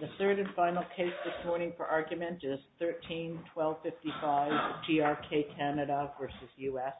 The third and final case this morning for argument is 13-1255 TRK Canada v. United States.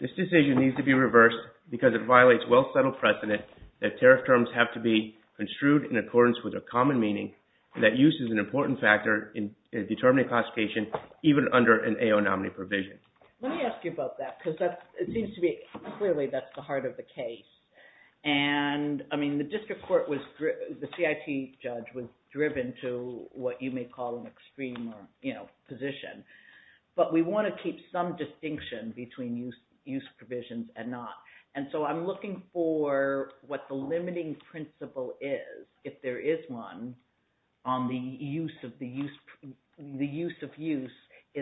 This decision needs to be reversed because it violates well-settled precedent that tariff terms have to be construed in accordance with a common meaning that use is an important factor in determining classification, even under an AO nominee provision. Let me ask you about that because it seems to be clearly that's the heart of the case. And I mean, the district court was, the CIT judge was driven to what you may call an extreme position. But we want to keep some distinction between use provisions and not. And so I'm looking for what the limiting principle is, if there is one, on the use of use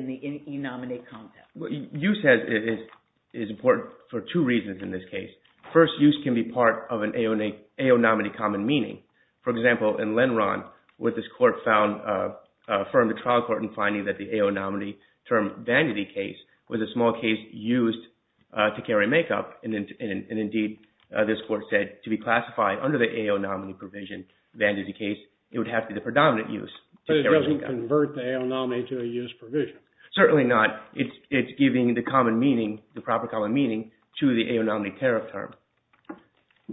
in the e-nominee context. Use is important for two reasons in this case. First, use can be part of an AO nominee common meaning. For example, in Lenron, where this court found, affirmed the trial court in finding that the And indeed, this court said, to be classified under the AO nominee provision, then in this case, it would have to be the predominant use. But it doesn't convert the AO nominee to a use provision. Certainly not. It's giving the common meaning, the proper common meaning, to the AO nominee tariff term.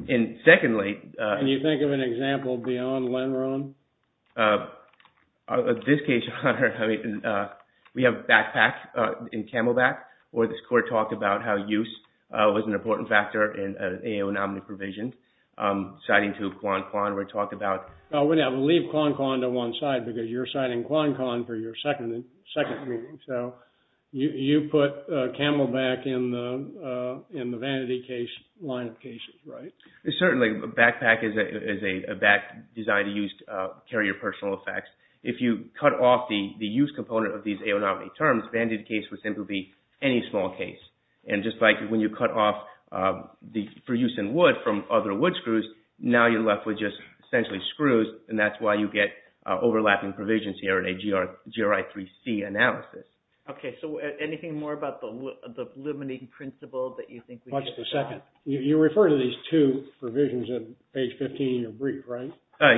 And secondly, Can you think of an example beyond Lenron? In this case, we have backpack in Camelback, where this court talked about how use was an important factor in an AO nominee provision. Citing to Quan Quan, where it talked about We'll leave Quan Quan to one side, because you're citing Quan Quan for your second meeting. So you put Camelback in the vanity case line of cases, right? Certainly, backpack is a back designed to use carrier personal effects. If you cut off the use component of these AO nominee terms, vanity case would simply be any small case. And just like when you cut off for use in wood from other wood screws, now you're left with just essentially screws. And that's why you get overlapping provisions here in a GRI 3C analysis. Okay, so anything more about the limiting principle that you think we need to talk about? What's the second? You refer to these two provisions on page 15 in your brief, right?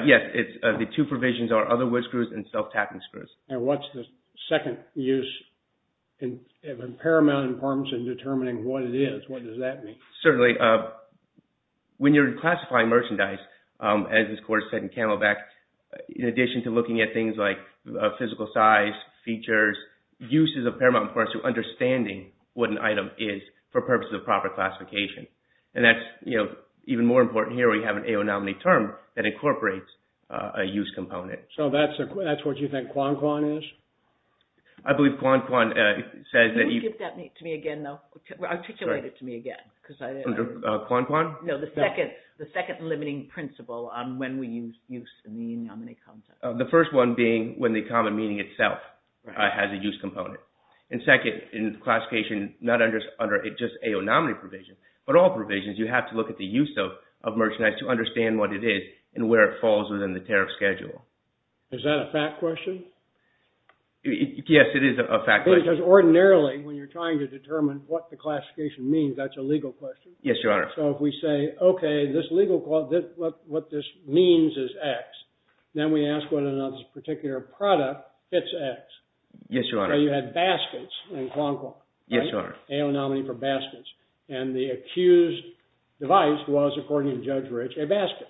Yes, the two provisions are other wood screws and self-tapping screws. And what's the second use in paramount importance in determining what it is? What does that mean? Certainly, when you're classifying merchandise, as this court said in Camelback, in addition to looking at things like physical size, features, uses of paramount importance to understanding what an item is for purposes of proper classification. And that's even more important here. We have an AO nominee term that incorporates a use component. So that's what you think Kwan Kwan is? I believe Kwan Kwan says that... Can you give that to me again, though? Articulate it to me again. Kwan Kwan? No, the second limiting principle on when we use use in the AO nominee concept. The first one being when the common meaning itself has a use component. And second, in classification, not under just AO nominee provision, but all provisions, you have to look at the use of merchandise to understand what it is and where it falls within the tariff schedule. Is that a fact question? Yes, it is a fact question. Because ordinarily, when you're trying to determine what the classification means, that's a legal question. Yes, Your Honor. So if we say, OK, what this means is X, then we ask whether or not this particular product fits X. Yes, Your Honor. So you had baskets in Kwan Kwan. Yes, Your Honor. AO nominee for baskets. And the accused device was, according to Judge Rich, a basket.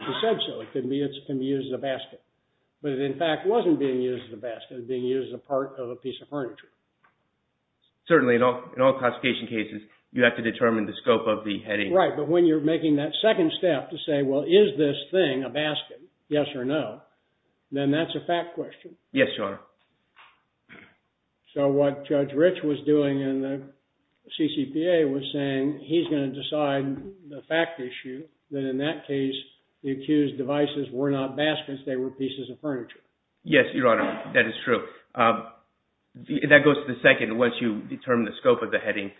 He said so. It can be used as a basket. But it, in fact, wasn't being used as a basket. It was being used as a part of a piece of furniture. Certainly, in all classification cases, you have to determine the scope of the heading. Right. But when you're making that second step to say, well, is this thing a basket, yes or no, then that's a fact question. Yes, Your Honor. So what Judge Rich was doing in the CCPA was saying he's going to decide the fact issue that in that case, the accused devices were not baskets. They were pieces of furniture. Yes, Your Honor. That is true. That goes to the second. Once you determine the scope of the heading,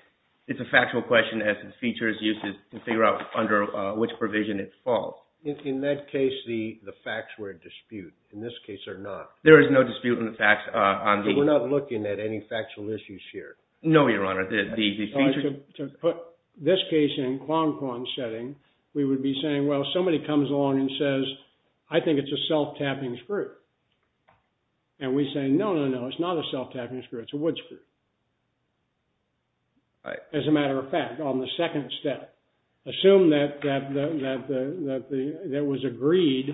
it's a factual question as the feature is used to figure out under which provision it falls. In that case, the facts were a dispute. In this case, they're not. There is no dispute in the facts. We're not looking at any factual issues here. No, Your Honor. To put this case in Kwan Kwan's setting, we would be saying, well, somebody comes along and says, I think it's a self-tapping screw. And we say, no, no, no, it's not a self-tapping screw. It's a wood screw. As a matter of fact, on the second step, assume that it was agreed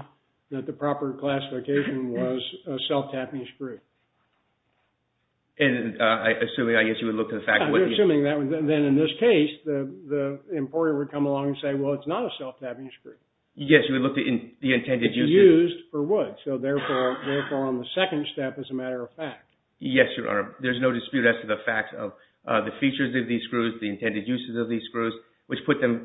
that the proper classification was a self-tapping screw. And I assume, I guess you would look to the fact... Then in this case, the employer would come along and say, well, it's not a self-tapping screw. Yes, you would look to the intended use. It's used for wood. So therefore, on the second step, as a matter of fact. Yes, Your Honor. There's no dispute as to the facts of the features of these screws, the intended uses of these screws, which put them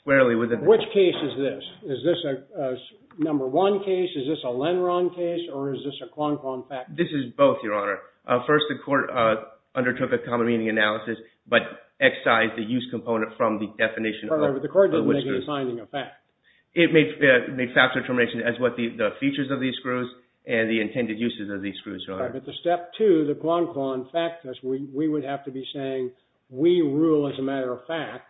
squarely within... Which case is this? Is this a number one case? Is this a Lenron case? Or is this a Kwan Kwan fact? This is both, Your Honor. First, the court undertook a common meaning analysis, It made fact determination as what the features of these screws and the intended uses of these screws are. But the step two, the Kwan Kwan fact test, we would have to be saying, we rule as a matter of fact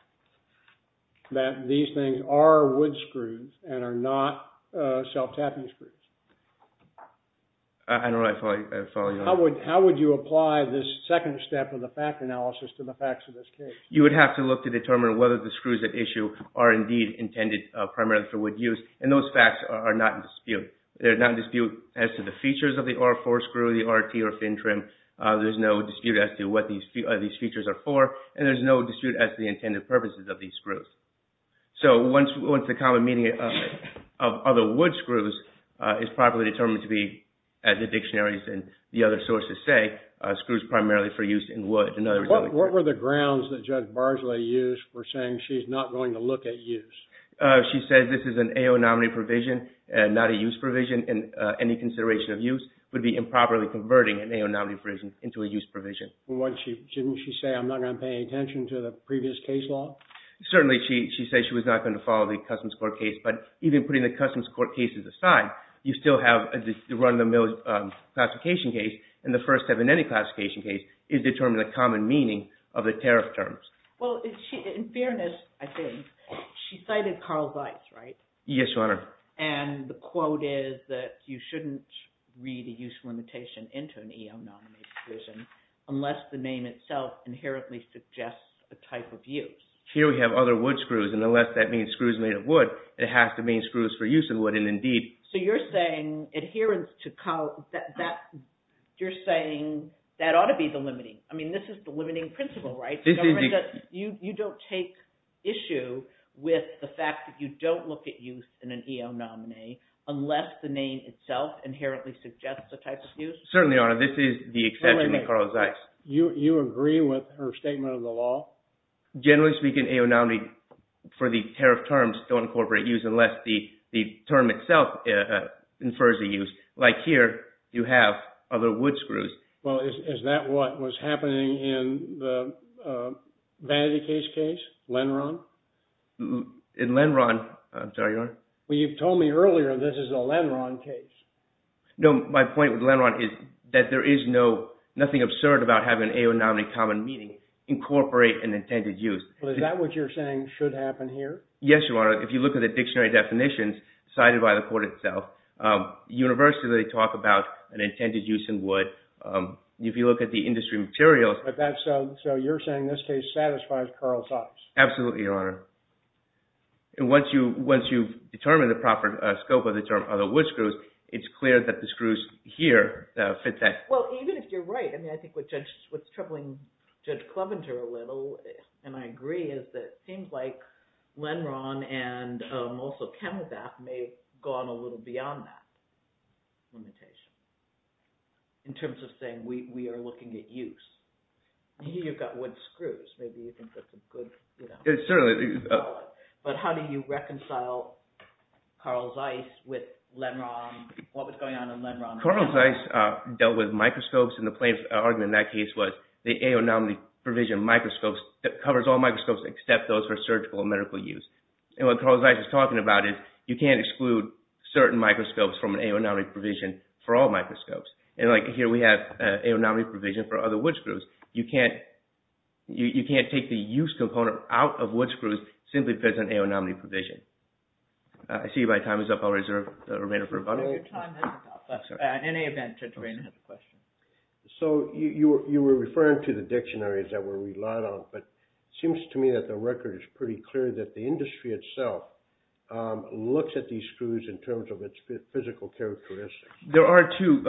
that these things are wood screws and are not self-tapping screws. I don't know if I follow you. How would you apply this second step of the fact analysis to the facts of this case? You would have to look to determine whether the screws at issue are indeed intended primarily for wood use. And those facts are not in dispute. They're not in dispute as to the features of the R4 screw, the RT or fin trim. There's no dispute as to what these features are for. And there's no dispute as to the intended purposes of these screws. So once the common meaning of other wood screws is properly determined to be, as the dictionaries and the other sources say, screws primarily for use in wood. What were the grounds that Judge Barsley used for saying she's not going to look at use? She said this is an AO nominee provision and not a use provision. And any consideration of use would be improperly converting an AO nominee provision into a use provision. Didn't she say I'm not going to pay attention to the previous case law? Certainly, she said she was not going to follow the Customs Court case. But even putting the Customs Court cases aside, you still have the run of the mill classification case. And the first step in any classification case is determining the common meaning of the tariff terms. Well, in fairness, I think, she cited Carl Weiss, right? Yes, Your Honor. And the quote is that you shouldn't read a use limitation into an AO nominee provision unless the name itself inherently suggests a type of use. Here we have other wood screws. And unless that means screws made of wood, it has to mean screws for use in wood. So you're saying that ought to be the limiting. I mean, this is the limiting principle, right? You don't take issue with the fact that you don't look at use in an AO nominee unless the name itself inherently suggests a type of use? Certainly, Your Honor. This is the exception to Carl Weiss. You agree with her statement of the law? Generally speaking, AO nominee for the tariff terms don't incorporate use unless the term itself infers a use. Like here, you have other wood screws. Well, is that what was happening in the vanity case case, Lenron? In Lenron, I'm sorry, Your Honor. Well, you've told me earlier this is a Lenron case. No, my point with Lenron is that there is nothing absurd about having an AO nominee common meaning incorporate an intended use. Well, is that what you're saying should happen here? Yes, Your Honor. If you look at the dictionary definitions cited by the court itself, universally they talk about an intended use in wood. If you look at the industry materials. So you're saying this case satisfies Carl Weiss? Absolutely, Your Honor. And once you've determined the proper scope of the term of the wood screws, it's clear that the screws here fit that. Well, even if you're right, I mean, I think what's troubling Judge Clevenger a little, and I agree, is that it seems like Lenron and also ChemEvap may have gone a little beyond that limitation in terms of saying we are looking at use. Here you've got wood screws. Maybe you think that's a good, you know. Certainly. But how do you reconcile Carl Weiss with Lenron? What was going on in Lenron? Carl Weiss dealt with microscopes, and the plain argument in that case was the aonomaly provision of microscopes that covers all microscopes except those for surgical and medical use. And what Carl Weiss is talking about is you can't exclude certain microscopes from an aonomaly provision for all microscopes. And like here we have an aonomaly provision for other wood screws. You can't take the use component out of wood screws simply because of an aonomaly provision. I see my time is up. I'll reserve the remainder for rebuttal. At any event, Drayton has a question. So you were referring to the dictionaries that we relied on, but it seems to me that the record is pretty clear that the industry itself looks at these screws in terms of its physical characteristics. There are two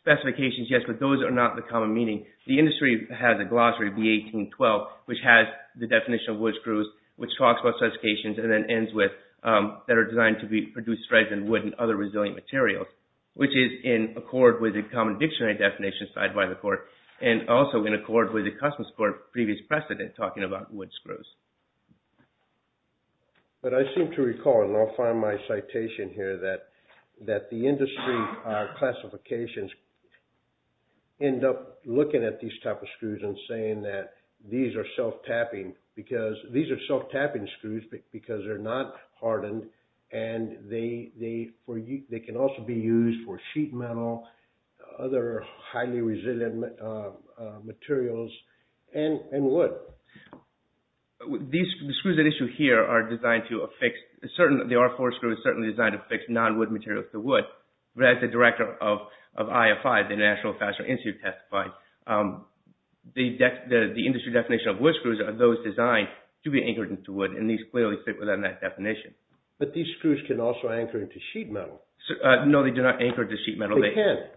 specifications, yes, but those are not the common meaning. The industry has a glossary, B1812, which has the definition of wood screws, which talks about specifications and then ends with that are designed to produce strength in wood and other resilient materials, which is in accord with a common dictionary definition signed by the court and also in accord with the customs court's previous precedent talking about wood screws. But I seem to recall, and I'll find my citation here, that the industry classifications end up looking at these type of screws and saying that these are self-tapping because these are self-tapping screws because they're not hardened and they can also be used for sheet metal, other highly resilient materials, and wood. The screws at issue here are designed to affix, the R4 screw is certainly designed to affix non-wood materials to wood, but as the director of IFI, the International Fasteners Institute testified, the industry definition of wood screws are those designed to be anchored to wood and these clearly fit within that definition. But these screws can also anchor to sheet metal. No, they do not anchor to sheet metal. They can't.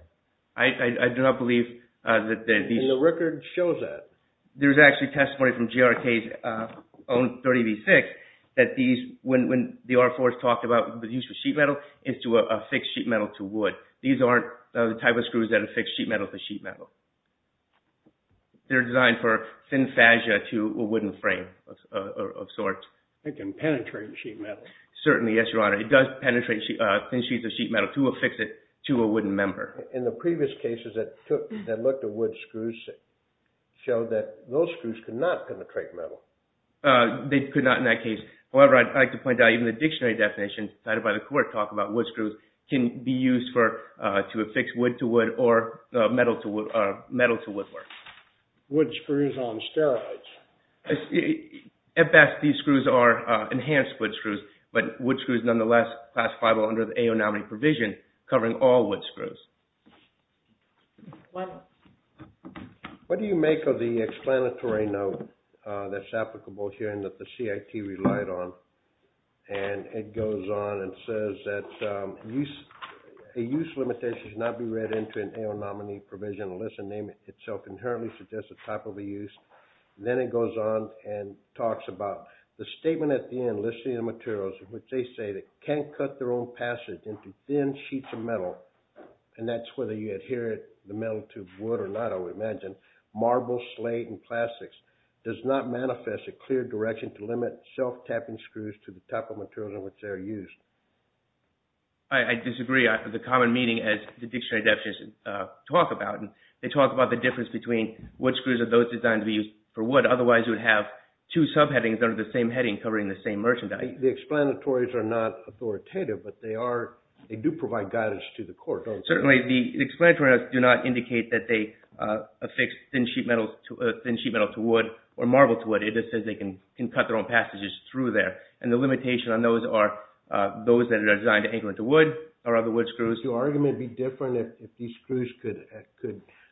I do not believe that these... The record shows that. There's actually testimony from GRK's own 30V6 that these, when the R4 is talked about, but used for sheet metal is to affix sheet metal to wood. These aren't the type of screws that affix sheet metal to sheet metal. They're designed for thin fascia to a wooden frame of sorts. It can penetrate sheet metal. Certainly, yes, Your Honor. It does penetrate thin sheets of sheet metal to affix it to a wooden member. In the previous cases that looked at wood screws, it showed that those screws could not penetrate metal. They could not in that case. However, I'd like to point out even the dictionary definition cited by the court talking about wood screws can be used to affix wood to wood or metal to wood or metal to woodwork. Wood screws on steroids. At best, these screws are enhanced wood screws, but wood screws, nonetheless, classifiable under the AO nominee provision covering all wood screws. What do you make of the explanatory note that's applicable here and that the CIT relied on? It goes on and says that a use limitation should not be read into an AO nominee provision unless the name itself inherently suggests a type of a use. Then it goes on and talks about the statement at the end listing the materials in which they say they can't cut their own passage into thin sheets of metal. That's whether you adhere the metal to wood or not. I would imagine marble, slate, and plastics does not manifest a clear direction to limit self-tapping screws to the type of materials in which they are used. I disagree. The common meaning, as the dictionary definitions talk about, they talk about the difference between what screws are those designed to be used for wood. Otherwise, you would have two subheadings under the same heading covering the same merchandise. The explanatories are not authoritative, but they do provide guidance to the court. Certainly, the explanatory notes do not indicate that they affix thin sheet metal to wood or marble to wood. It just says they can cut their own passages through there. The limitation on those are those that are designed to anchor into wood or other wood screws. Your argument would be different if these screws could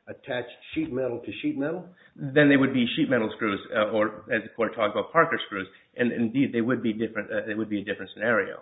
attach sheet metal to sheet metal? Then they would be sheet metal screws or, as the court talked about, Parker screws. Indeed, it would be a different scenario.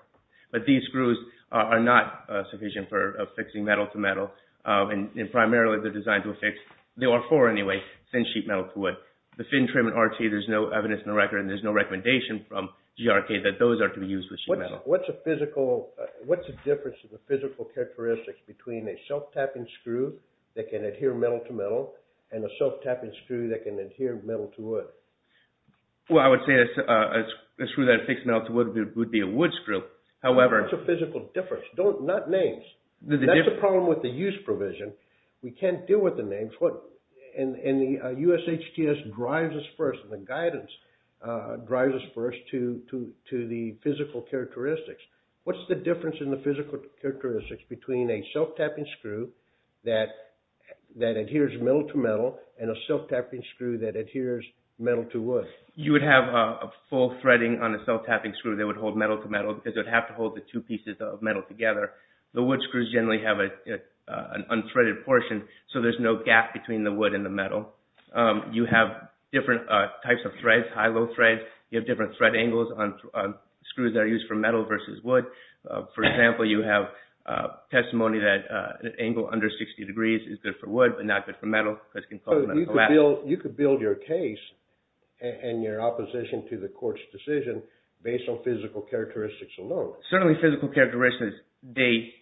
But these screws are not sufficient for affixing metal to metal. Primarily, they are designed to affix, they are for anyway, thin sheet metal to wood. There is no evidence in the record and there is no recommendation from GRK that those are to be used with sheet metal. What is the difference in the physical characteristics between a self-tapping screw that can adhere metal to metal and a self-tapping screw that can adhere metal to wood? I would say that a screw that affixes metal to wood would be a wood screw. What is the physical difference? Not names. That is the problem with the use provision. We cannot deal with the names. The USHTS drives us first, the guidance drives us first to the physical characteristics. What is the difference in the physical characteristics between a self-tapping screw that adheres metal to metal and a self-tapping screw that adheres metal to wood? You would have a full threading on a self-tapping screw. They would hold metal to metal because they would have to hold the two pieces of metal together. The wood screws generally have an unthreaded portion so there is no gap between the wood and the metal. You have different types of threads, high-low threads. You have different thread angles on screws that are used for metal versus wood. For example, you have testimony that an angle under 60 degrees is good for wood but not good for metal. You could build your case and your opposition to the court's decision based on physical characteristics alone. Certainly physical characteristics, they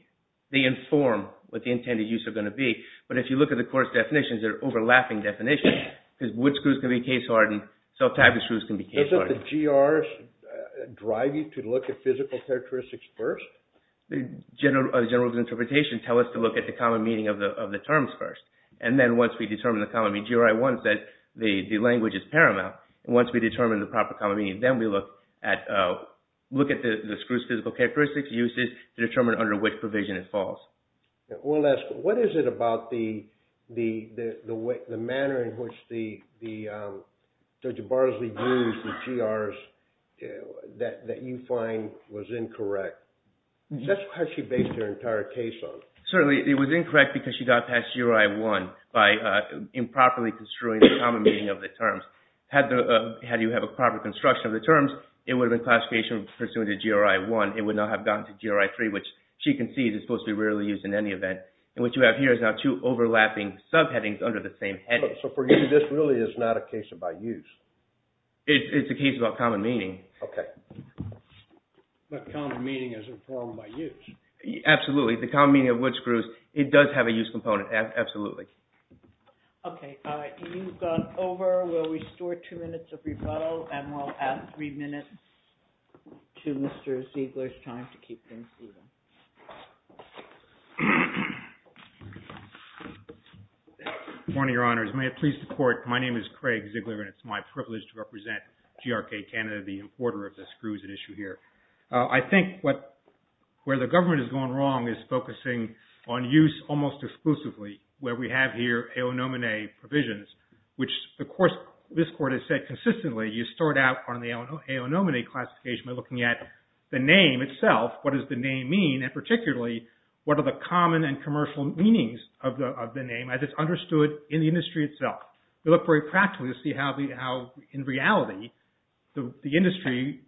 inform what the intended use is going to be. But if you look at the court's definitions, they're overlapping definitions because wood screws can be case-hardened, self-tapping screws can be case-hardened. Doesn't the GRs drive you to look at physical characteristics first? General rules of interpretation tell us to look at the common meaning of the terms first. Then once we determine the common meaning, GRI 1 says the language is paramount. Once we determine the proper common meaning, then we look at the screw's physical characteristics, uses to determine under which provision it falls. We'll ask, what is it about the manner in which Judge Barsley views the GRs that you find was incorrect? That's how she based her entire case on. Certainly it was incorrect because she got past GRI 1 by improperly construing the common meaning of the terms. Had you had a proper construction of the terms, it would have been classification pursuant to GRI 1. It would not have gotten to GRI 3, which she concedes is supposed to be rarely used in any event. And what you have here is now two overlapping subheadings under the same heading. So for you, this really is not a case about use? It's a case about common meaning. Okay. But common meaning is informed by use. Absolutely. The common meaning of wood screws, it does have a use component, absolutely. Okay. You've gone over. We'll restore two minutes of rebuttal, and we'll add three minutes to Mr. Ziegler's time to keep things even. Good morning, Your Honors. May it please the Court, my name is Craig Ziegler, and it's my privilege to represent GRK Canada, the importer of the screws at issue here. I think where the government has gone wrong is focusing on use almost exclusively, where we have here aeonomine provisions, which, of course, this Court has said consistently, you start out on the aeonomine classification by looking at the name itself, what does the name mean, and particularly, what are the common and commercial meanings of the name as it's understood in the industry itself. You look very practically to see how, in reality, the industry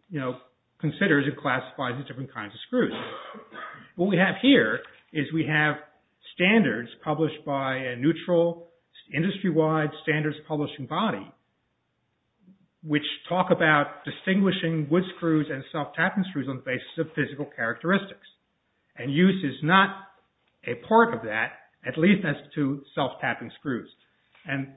considers and classifies the different kinds of screws. What we have here is we have standards published by a neutral, industry-wide standards publishing body which talk about distinguishing wood screws and self-tapping screws on the basis of physical characteristics, and use is not a part of that, at least as to self-tapping screws.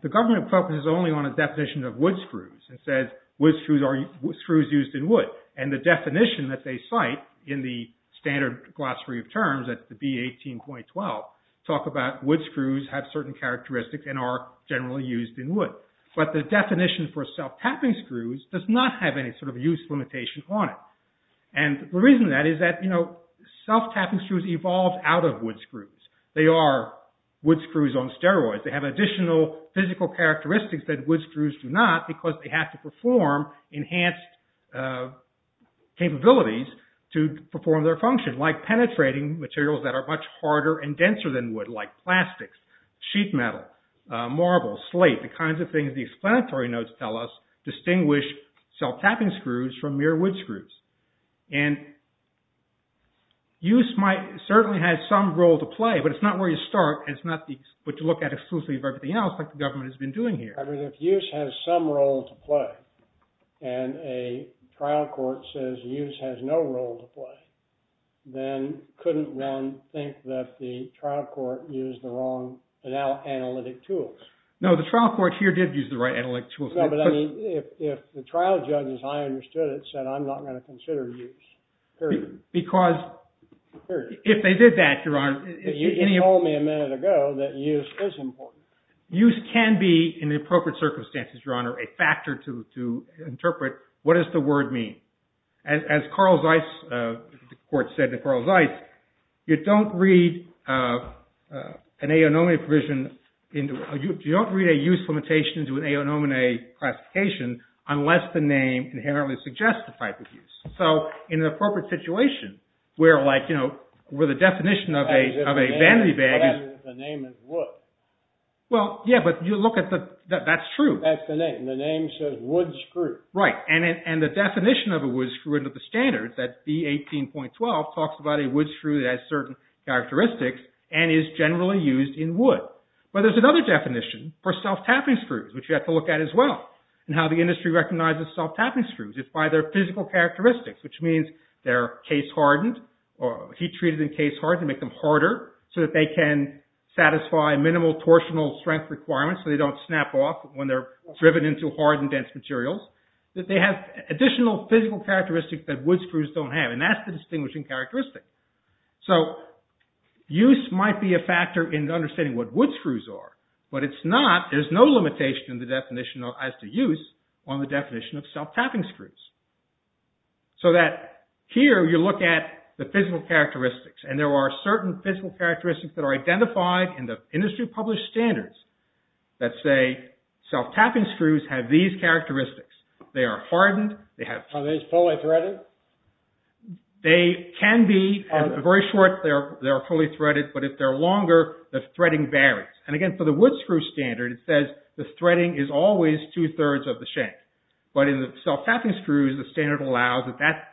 The government focuses only on a definition of wood screws and says wood screws are screws used in wood, and the definition that they cite in the standard glossary of terms, that's the B18.12, talk about wood screws have certain characteristics and are generally used in wood. But the definition for self-tapping screws does not have any sort of use limitation on it. And the reason that is that self-tapping screws evolved out of wood screws. They are wood screws on steroids. They have additional physical characteristics that wood screws do not because they have to perform enhanced capabilities to perform their function, like penetrating materials that are much harder and denser than wood, like plastics, sheet metal, marble, slate, the kinds of things the explanatory notes tell us distinguish self-tapping screws from mere wood screws. And use certainly has some role to play, but it's not where you start, and it's not what you look at exclusively of everything else, like the government has been doing here. If use has some role to play, and a trial court says use has no role to play, then couldn't one think that the trial court used the wrong analytic tools? No, the trial court here did use the right analytic tools. No, but I mean, if the trial judge, as I understood it, said I'm not going to consider use, period. Because if they did that, Your Honor... You did tell me a minute ago that use is important. Use can be, in the appropriate circumstances, Your Honor, a factor to interpret what does the word mean. As Carl Zeiss, the court said to Carl Zeiss, you don't read an AONOMINE provision, you don't read a use limitation into an AONOMINE classification unless the name inherently suggests the type of use. So in an appropriate situation, where the definition of a vanity bag is... The name is wood. Well, yeah, but you look at the... That's true. That's the name. The name says wood screw. Right, and the definition of a wood screw into the standards, that B18.12, talks about a wood screw that has certain characteristics and is generally used in wood. But there's another definition for self-tapping screws, which you have to look at as well, and how the industry recognizes self-tapping screws. It's by their physical characteristics, which means they're case-hardened, heat-treated and case-hardened to make them harder so that they can satisfy minimal torsional strength requirements so they don't snap off when they're driven into hard and dense materials. That they have additional physical characteristics that wood screws don't have, and that's the distinguishing characteristic. So use might be a factor in understanding what wood screws are, but it's not... There's no limitation in the definition as to use on the definition of self-tapping screws. So that here you look at the physical characteristics, and there are certain physical characteristics that are identified in the industry-published standards that say self-tapping screws have these characteristics. They are hardened, they have... Are they fully threaded? They can be. Very short, they are fully threaded, but if they're longer, the threading varies. And again, for the wood screw standard, it says the threading is always two-thirds of the shank. But in the self-tapping screws, the standard allows that that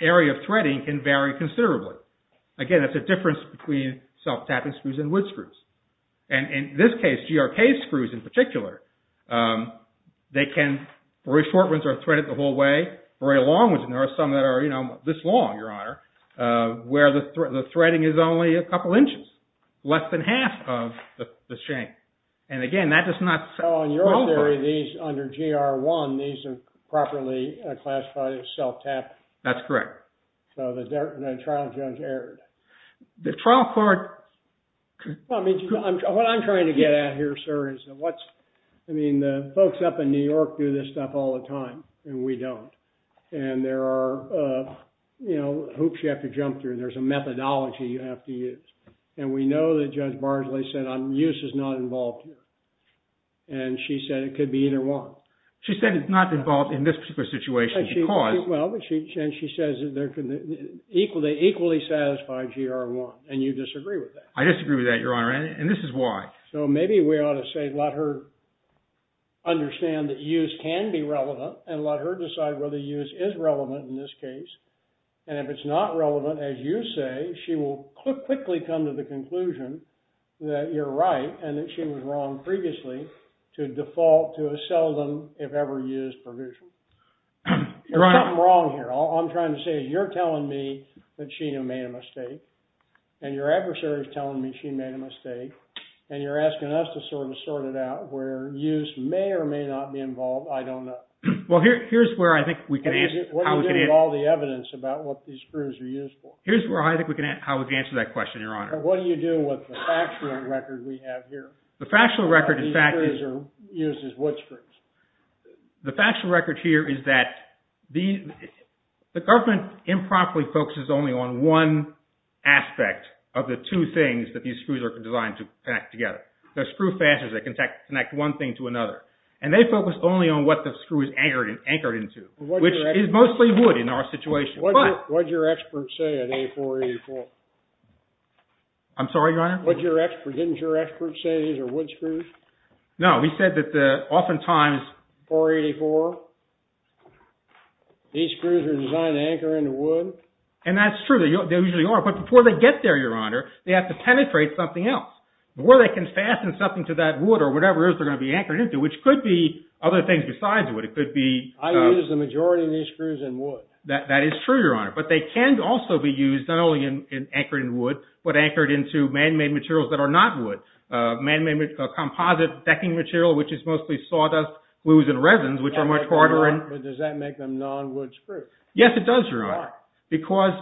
area of threading can vary considerably. Again, that's a difference between self-tapping screws and wood screws. And in this case, GRK screws in particular, they can... Very short ones are threaded the whole way, very long ones, and there are some that are, you know, this long, Your Honor, where the threading is only a couple inches, less than half of the shank. And again, that does not... So in your theory, these under GR1, these are properly classified as self-tapping? That's correct. So the trial judge erred. The trial court... Well, I mean, what I'm trying to get at here, sir, is what's... I mean, the folks up in New York do this stuff all the time, and we don't. And there are, you know, hoops you have to jump through. There's a methodology you have to use. And we know that Judge Barsley said, use is not involved here. And she said it could be either one. She said it's not involved in this particular situation because... Well, and she says they're equally satisfied GR1, and you disagree with that. I disagree with that, Your Honor, and this is why. So maybe we ought to say let her understand that use can be relevant and let her decide whether use is relevant in this case. And if it's not relevant, as you say, she will quickly come to the conclusion that you're right and that she was wrong previously to default to a seldom, if ever, used provision. There's something wrong here. All I'm trying to say is you're telling me that she made a mistake, and your adversary is telling me she made a mistake, and you're asking us to sort it out where use may or may not be involved. I don't know. Well, here's where I think we can answer... What do you do with all the evidence about what these screws are used for? Here's where I think we can answer that question, Your Honor. What do you do with the factual record we have here? The factual record, in fact, is... These screws are used as wood screws. The factual record here is that the government improperly focuses only on one aspect of the two things that these screws are designed to connect together. They're screw fasteners that can connect one thing to another. And they focus only on what the screw is anchored into, which is mostly wood in our situation. What did your expert say at A484? I'm sorry, Your Honor? Didn't your expert say these are wood screws? No, he said that oftentimes... And that's true. They usually are. But before they get there, Your Honor, they have to penetrate something else. Before they can fasten something to that wood or whatever else they're going to be anchored into, which could be other things besides wood. It could be... That is true, Your Honor. But they can also be used not only in anchoring wood, but anchored into man-made materials that are not wood. Man-made composite decking material, which is mostly sawdust, wood and resins, which are much harder... Does that make them non-wood screws? Yes, it does, Your Honor. Why? Because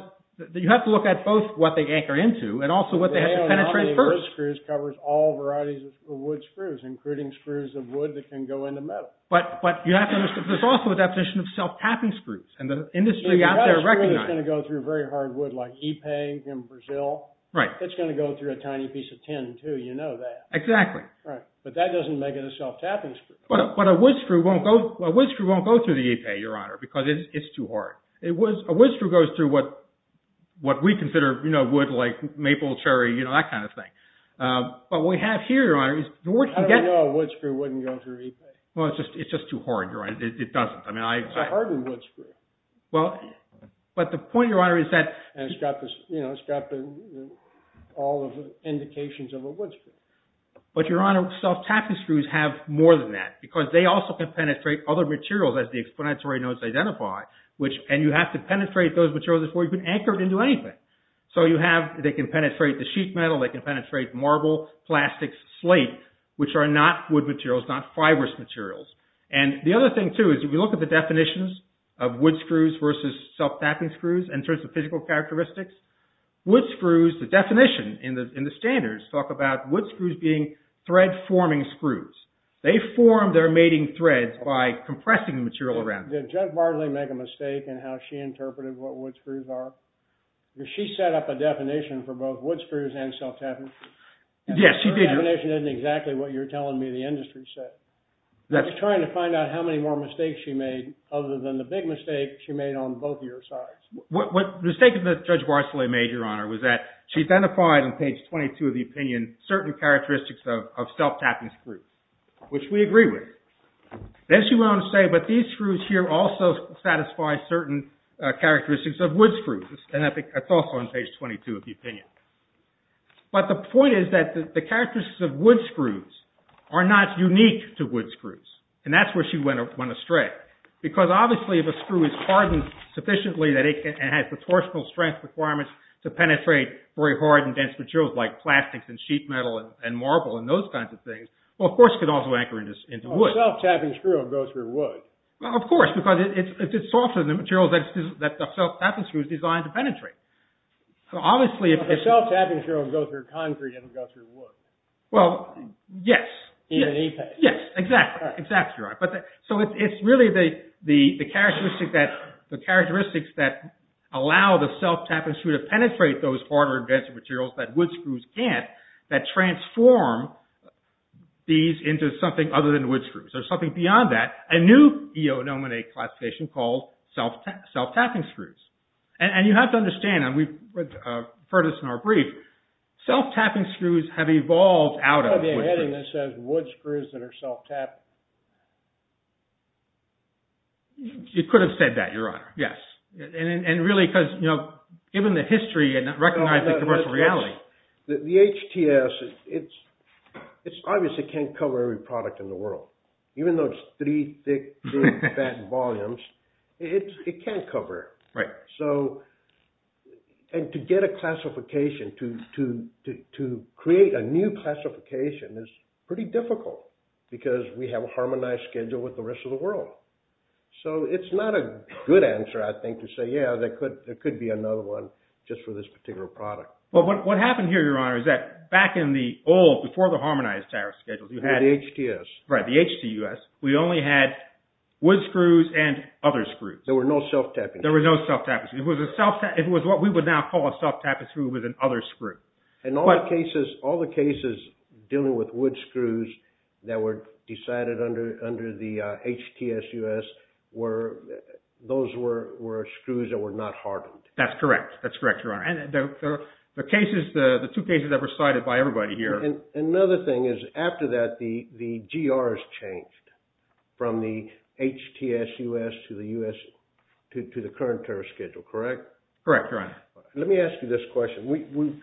you have to look at both what they anchor into and also what they have to penetrate first. Wood screws covers all varieties of wood screws, including screws of wood that can go into metal. But you have to understand, there's also a deposition of self-tapping screws. And the industry out there recognizes... If you have a screw that's going to go through very hard wood, like EPEG in Brazil, it's going to go through a tiny piece of tin, too. You know that. Exactly. But that doesn't make it a self-tapping screw. But a wood screw won't go through the EPEG, Your Honor, because it's too hard. A wood screw goes through what we consider wood, like maple, cherry, that kind of thing. But what we have here, Your Honor, is... I don't know a wood screw wouldn't go through EPEG. Well, it's just too hard, Your Honor. It doesn't. It's a hardened wood screw. But the point, Your Honor, is that... And it's got all of the indications of a wood screw. But, Your Honor, self-tapping screws have more than that, because they also can penetrate other materials, as the explanatory notes identify. And you have to penetrate those materials before you can anchor it into anything. So you have... They can penetrate the sheet metal. They can penetrate marble, plastic, slate, which are not wood materials, not fibrous materials. And the other thing, too, is if you look at the definitions of wood screws versus self-tapping screws in terms of physical characteristics, wood screws, the definition in the standards, talk about wood screws being thread-forming screws. They form their mating threads by compressing the material around them. Did Judge Barclay make a mistake in how she interpreted what wood screws are? Because she set up a definition for both wood screws and self-tapping screws. Yes, she did. And her definition isn't exactly what you're telling me the industry said. I was trying to find out how many more mistakes she made The mistake that Judge Barclay made, Your Honor, was that she identified in page 22 of the opinion certain characteristics of self-tapping screws, which we agree with. Then she went on to say, but these screws here also satisfy certain characteristics of wood screws. And that's also on page 22 of the opinion. But the point is that the characteristics of wood screws are not unique to wood screws. And that's where she went astray. Because obviously if a screw is hardened sufficiently and has the torsional strength requirements to penetrate very hard and dense materials like plastics and sheet metal and marble and those kinds of things, well, of course it could also anchor into wood. Well, a self-tapping screw would go through wood. Well, of course. Because it's softer than the material that the self-tapping screw is designed to penetrate. A self-tapping screw would go through concrete and it would go through wood. Well, yes. In an e-paste. Yes, exactly. Exactly, Your Honor. So it's really the characteristics that allow the self-tapping screw to penetrate those harder and denser materials that wood screws can't, that transform these into something other than wood screws. There's something beyond that. A new E.O. Nominate classification called self-tapping screws. And you have to understand, and we've heard this in our brief, self-tapping screws have evolved out of wood screws. It's part of the heading that says wood screws that are self-tapping. You could have said that, Your Honor. Yes. And really, given the history and recognizing commercial reality. The HTS, it's obvious it can't cover every product in the world. Even though it's three big fat volumes, it can't cover it. Right. So, and to get a classification, to create a new classification is pretty difficult because we have a harmonized schedule with the rest of the world. So it's not a good answer, I think, to say, yeah, there could be another one just for this particular product. But what happened here, Your Honor, is that back in the old, before the harmonized tariff schedules, you had HTS. Right, the HTS. We only had wood screws and other screws. There were no self-tapping screws. There were no self-tapping screws. It was what we would now call a self-tapping screw with an other screw. And all the cases dealing with wood screws that were decided under the HTS-US, those were screws that were not hardened. That's correct. That's correct, Your Honor. And the two cases that were cited by everybody here. And another thing is, after that, the GRs changed from the HTS-US to the current tariff schedule, correct? Correct, Your Honor. Let me ask you this question.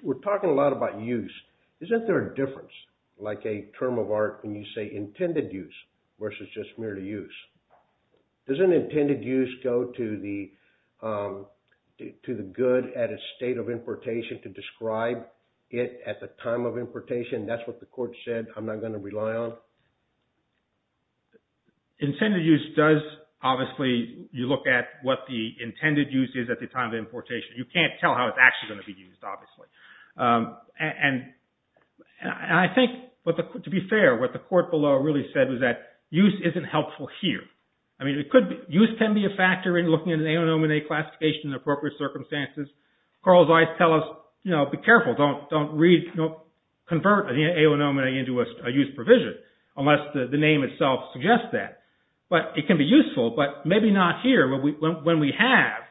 We're talking a lot about use. Isn't there a difference, like a term of art, when you say intended use versus just merely use? Doesn't intended use go to the good at a state of importation to describe it at the time of importation? That's what the court said. I'm not going to rely on it. Intended use does, obviously, you look at what the intended use is at the time of importation. You can't tell how it's actually going to be used, obviously. And I think, to be fair, what the court below really said was that use isn't helpful here. I mean, use can be a factor in looking at an aonomenae classification in appropriate circumstances. Carl's eyes tell us, you know, be careful. Don't convert an aonomenae into a use provision unless the name itself suggests that. But it can be useful, but maybe not here when we have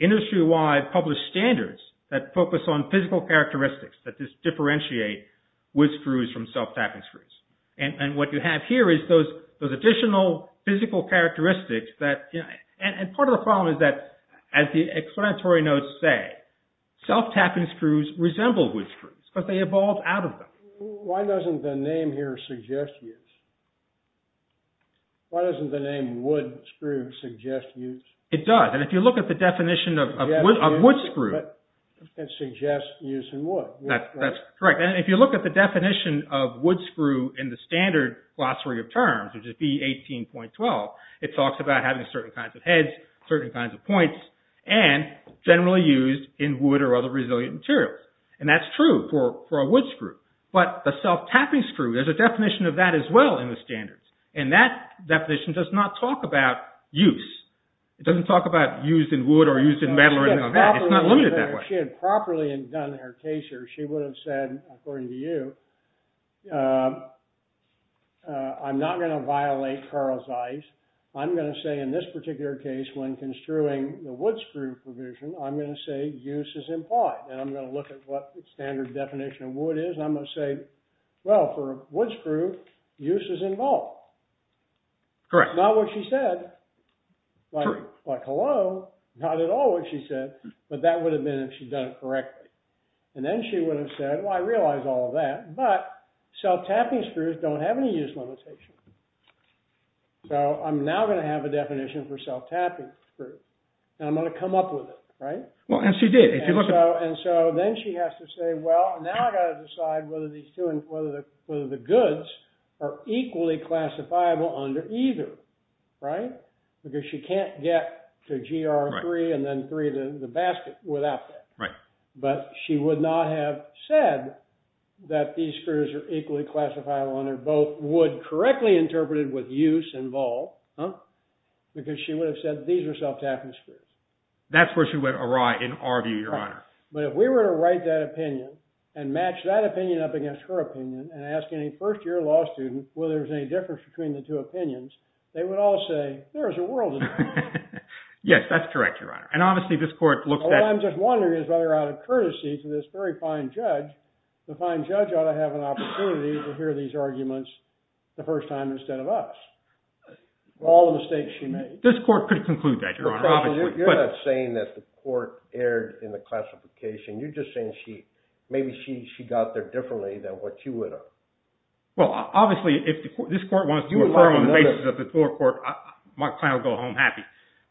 industry-wide published standards that focus on physical characteristics that just differentiate wood screws from self-tapping screws. And what you have here is those additional physical characteristics that, you know, and part of the problem is that, as the explanatory notes say, self-tapping screws resemble wood screws because they evolved out of them. Why doesn't the name here suggest use? Why doesn't the name wood screw suggest use? It does. And if you look at the definition of wood screw... It suggests use in wood. That's correct. And if you look at the definition of wood screw in the standard glossary of terms, which would be 18.12, it talks about having certain kinds of heads, certain kinds of points, and generally used in wood or other resilient materials. And that's true for a wood screw. But the self-tapping screw, there's a definition of that as well in the standards. And that definition does not talk about use. It doesn't talk about used in wood or used in metal or anything like that. It's not limited that way. If she had properly done her case here, she would have said, according to you, I'm not going to violate Carl Zeiss. I'm going to say in this particular case, when construing the wood screw provision, I'm going to say use is implied. And I'm going to look at what the standard definition of wood is. And I'm going to say, well, for a wood screw, use is involved. Correct. Not what she said. Correct. Like, hello. Not at all what she said. But that would have been if she'd done it correctly. And then she would have said, well, I realize all of that. But self-tapping screws don't have any use limitation. So I'm now going to have a definition for self-tapping screw. And I'm going to come up with it, right? Well, and she did. And so then she has to say, well, now I've got to decide whether these two and whether the goods are equally classifiable under either. Right? Because she can't get to GR3 and then 3 to the basket without that. Right. But she would not have said that these screws are equally classifiable under both wood, correctly interpreted with use involved. Huh? Because she would have said these are self-tapping screws. That's where she went awry, in our view, Your Honor. But if we were to write that opinion and match that opinion up against her opinion and ask any first-year law student whether there's any difference between the two opinions, they would all say, there is a world of difference. Yes, that's correct, Your Honor. And obviously, this court looks at. All I'm just wondering is whether, out of courtesy to this very fine judge, the fine judge ought to have an opportunity to hear these arguments the first time instead of us. All the mistakes she made. This court could conclude that, Your Honor, obviously. You're not saying that the court erred in the classification. You're just saying maybe she got there differently than what you would have. Well, obviously, if this court wants to refer on the basis of the Thor Court, my client will go home happy.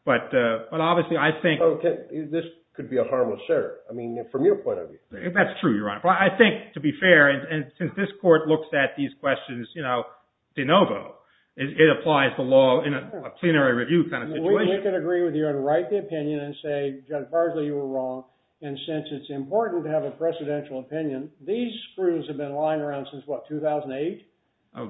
But obviously, I think. This could be a harmless error, I mean, from your point of view. That's true, Your Honor. But I think, to be fair, and since this court looks at these questions de novo, it applies the law in a plenary review kind of situation. We can agree with you and write the opinion and say, Judge Parsley, you were wrong. And since it's important to have a precedential opinion, these screws have been lying around since, what, 2008?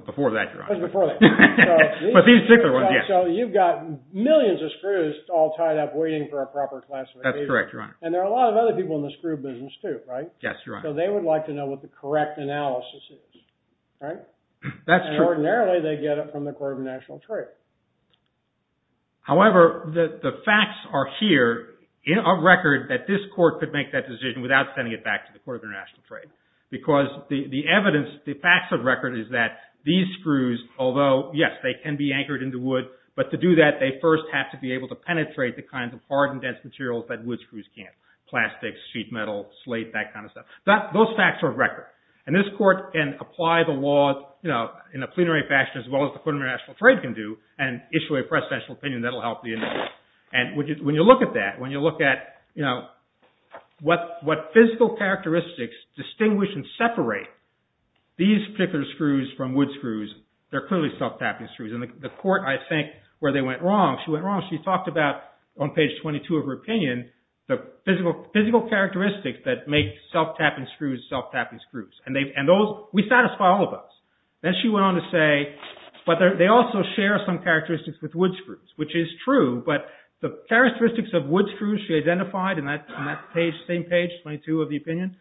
Before that, Your Honor. It was before that. But these particular ones, yes. So you've got millions of screws all tied up waiting for a proper classification. That's correct, Your Honor. And there are a lot of other people in the screw business, too, right? Yes, Your Honor. So they would like to know what the correct analysis is, right? That's true. Ordinarily, they get it from the Court of International Trade. However, the facts are here of record that this court could make that decision without sending it back to the Court of International Trade, because the evidence, the facts of record, is that these screws, although, yes, they can be anchored into wood, but to do that, they first have to be able to penetrate the kinds of hard and dense materials that wood screws can't, plastics, sheet metal, slate, that kind of stuff. Those facts are of record. And this court can apply the law in a plenary fashion as well as the Court of International Trade can do and issue a presidential opinion that'll help the analysis. And when you look at that, when you look at what physical characteristics distinguish and separate these particular screws from wood screws, they're clearly self-tapping screws. And the court, I think, where they went wrong, she went wrong. She talked about, on page 22 of her opinion, the physical characteristics that make self-tapping screws self-tapping screws. And we satisfy all of those. Then she went on to say, but they also share some characteristics with wood screws, which is true. But the characteristics of wood screws she identified in that same page, 22 of the opinion,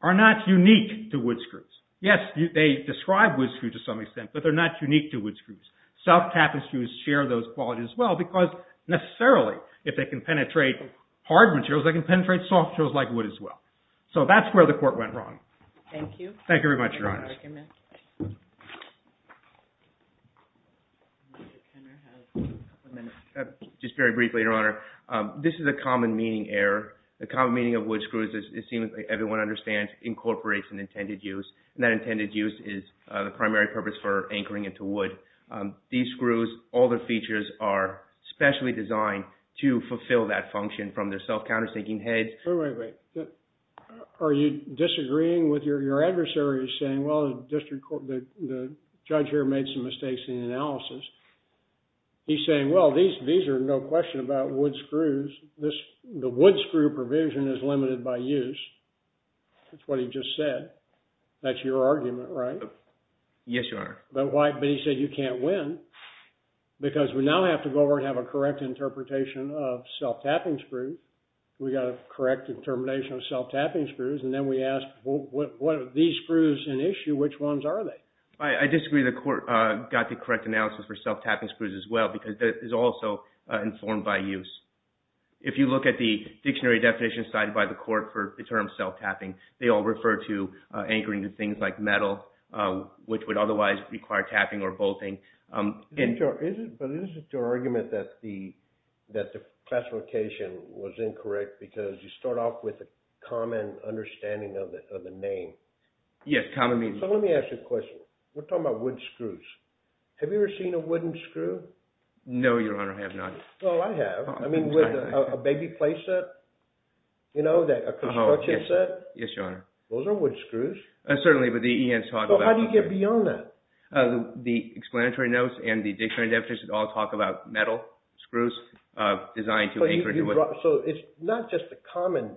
are not unique to wood screws. Yes, they describe wood screws to some extent, but they're not unique to wood screws. Self-tapping screws share those qualities as well, because necessarily, if they can penetrate hard materials, they can penetrate soft materials like wood as well. So that's where the court went wrong. Thank you. Thank you very much, Your Honor. Just very briefly, Your Honor, this is a common meaning error. The common meaning of wood screws, it seems everyone understands, incorporates an intended use. And that intended use is the primary purpose for anchoring it to wood. These screws, all their features are specially designed to fulfill that function from their self-countersinking head. Wait, wait, wait. Are you disagreeing with your adversary saying, well, the judge here made some mistakes in the analysis. He's saying, well, these are no question about wood screws. The wood screw provision is limited by use. That's what he just said. That's your argument, right? Yes, Your Honor. But he said you can't win, because we now have to go over and have a correct interpretation of self-tapping screws. We've got a correct determination of self-tapping screws. And then we ask, well, what are these screws an issue? Which ones are they? I disagree. The court got the correct analysis for self-tapping screws as well, because it is also informed by use. If you look at the dictionary definition cited by the court for the term self-tapping, they all refer to anchoring to things like metal, which would otherwise require tapping or bolting. But is it your argument that the classification was incorrect, because you start off with a common understanding of the name? Yes, common meaning. So let me ask you a question. We're talking about wood screws. Have you ever seen a wooden screw? No, Your Honor, I have not. No, I have. I mean, with a baby play set? You know, a construction set? Yes, Your Honor. Those are wood screws. Certainly, but he has talked about wood screws. So how do you get beyond that? The explanatory notes and the dictionary definition all talk about metal screws designed to anchor to wood. So it's not just a common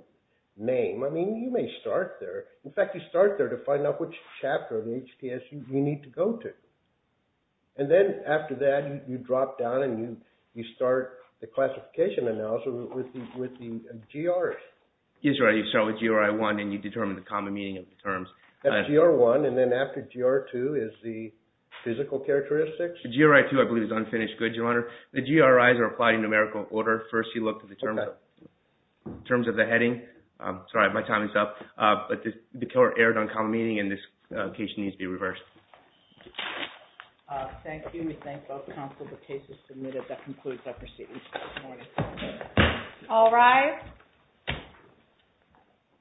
name. I mean, you may start there. In fact, you start there to find out which chapter of HDS you need to go to. And then after that, you drop down and you start the classification analysis with the GRs. You start with GR1 and you determine the common meaning of the terms. That's GR1. And then after GR2 is the physical characteristics? GR2, I believe, is unfinished goods, Your Honor. The GRIs are applied in numerical order. First, you look at the terms of the heading. Sorry, my time is up. But the killer erred on common meaning and this case needs to be reversed. Thank you. We thank both counsel. The case is submitted. That concludes our proceedings this morning. All rise.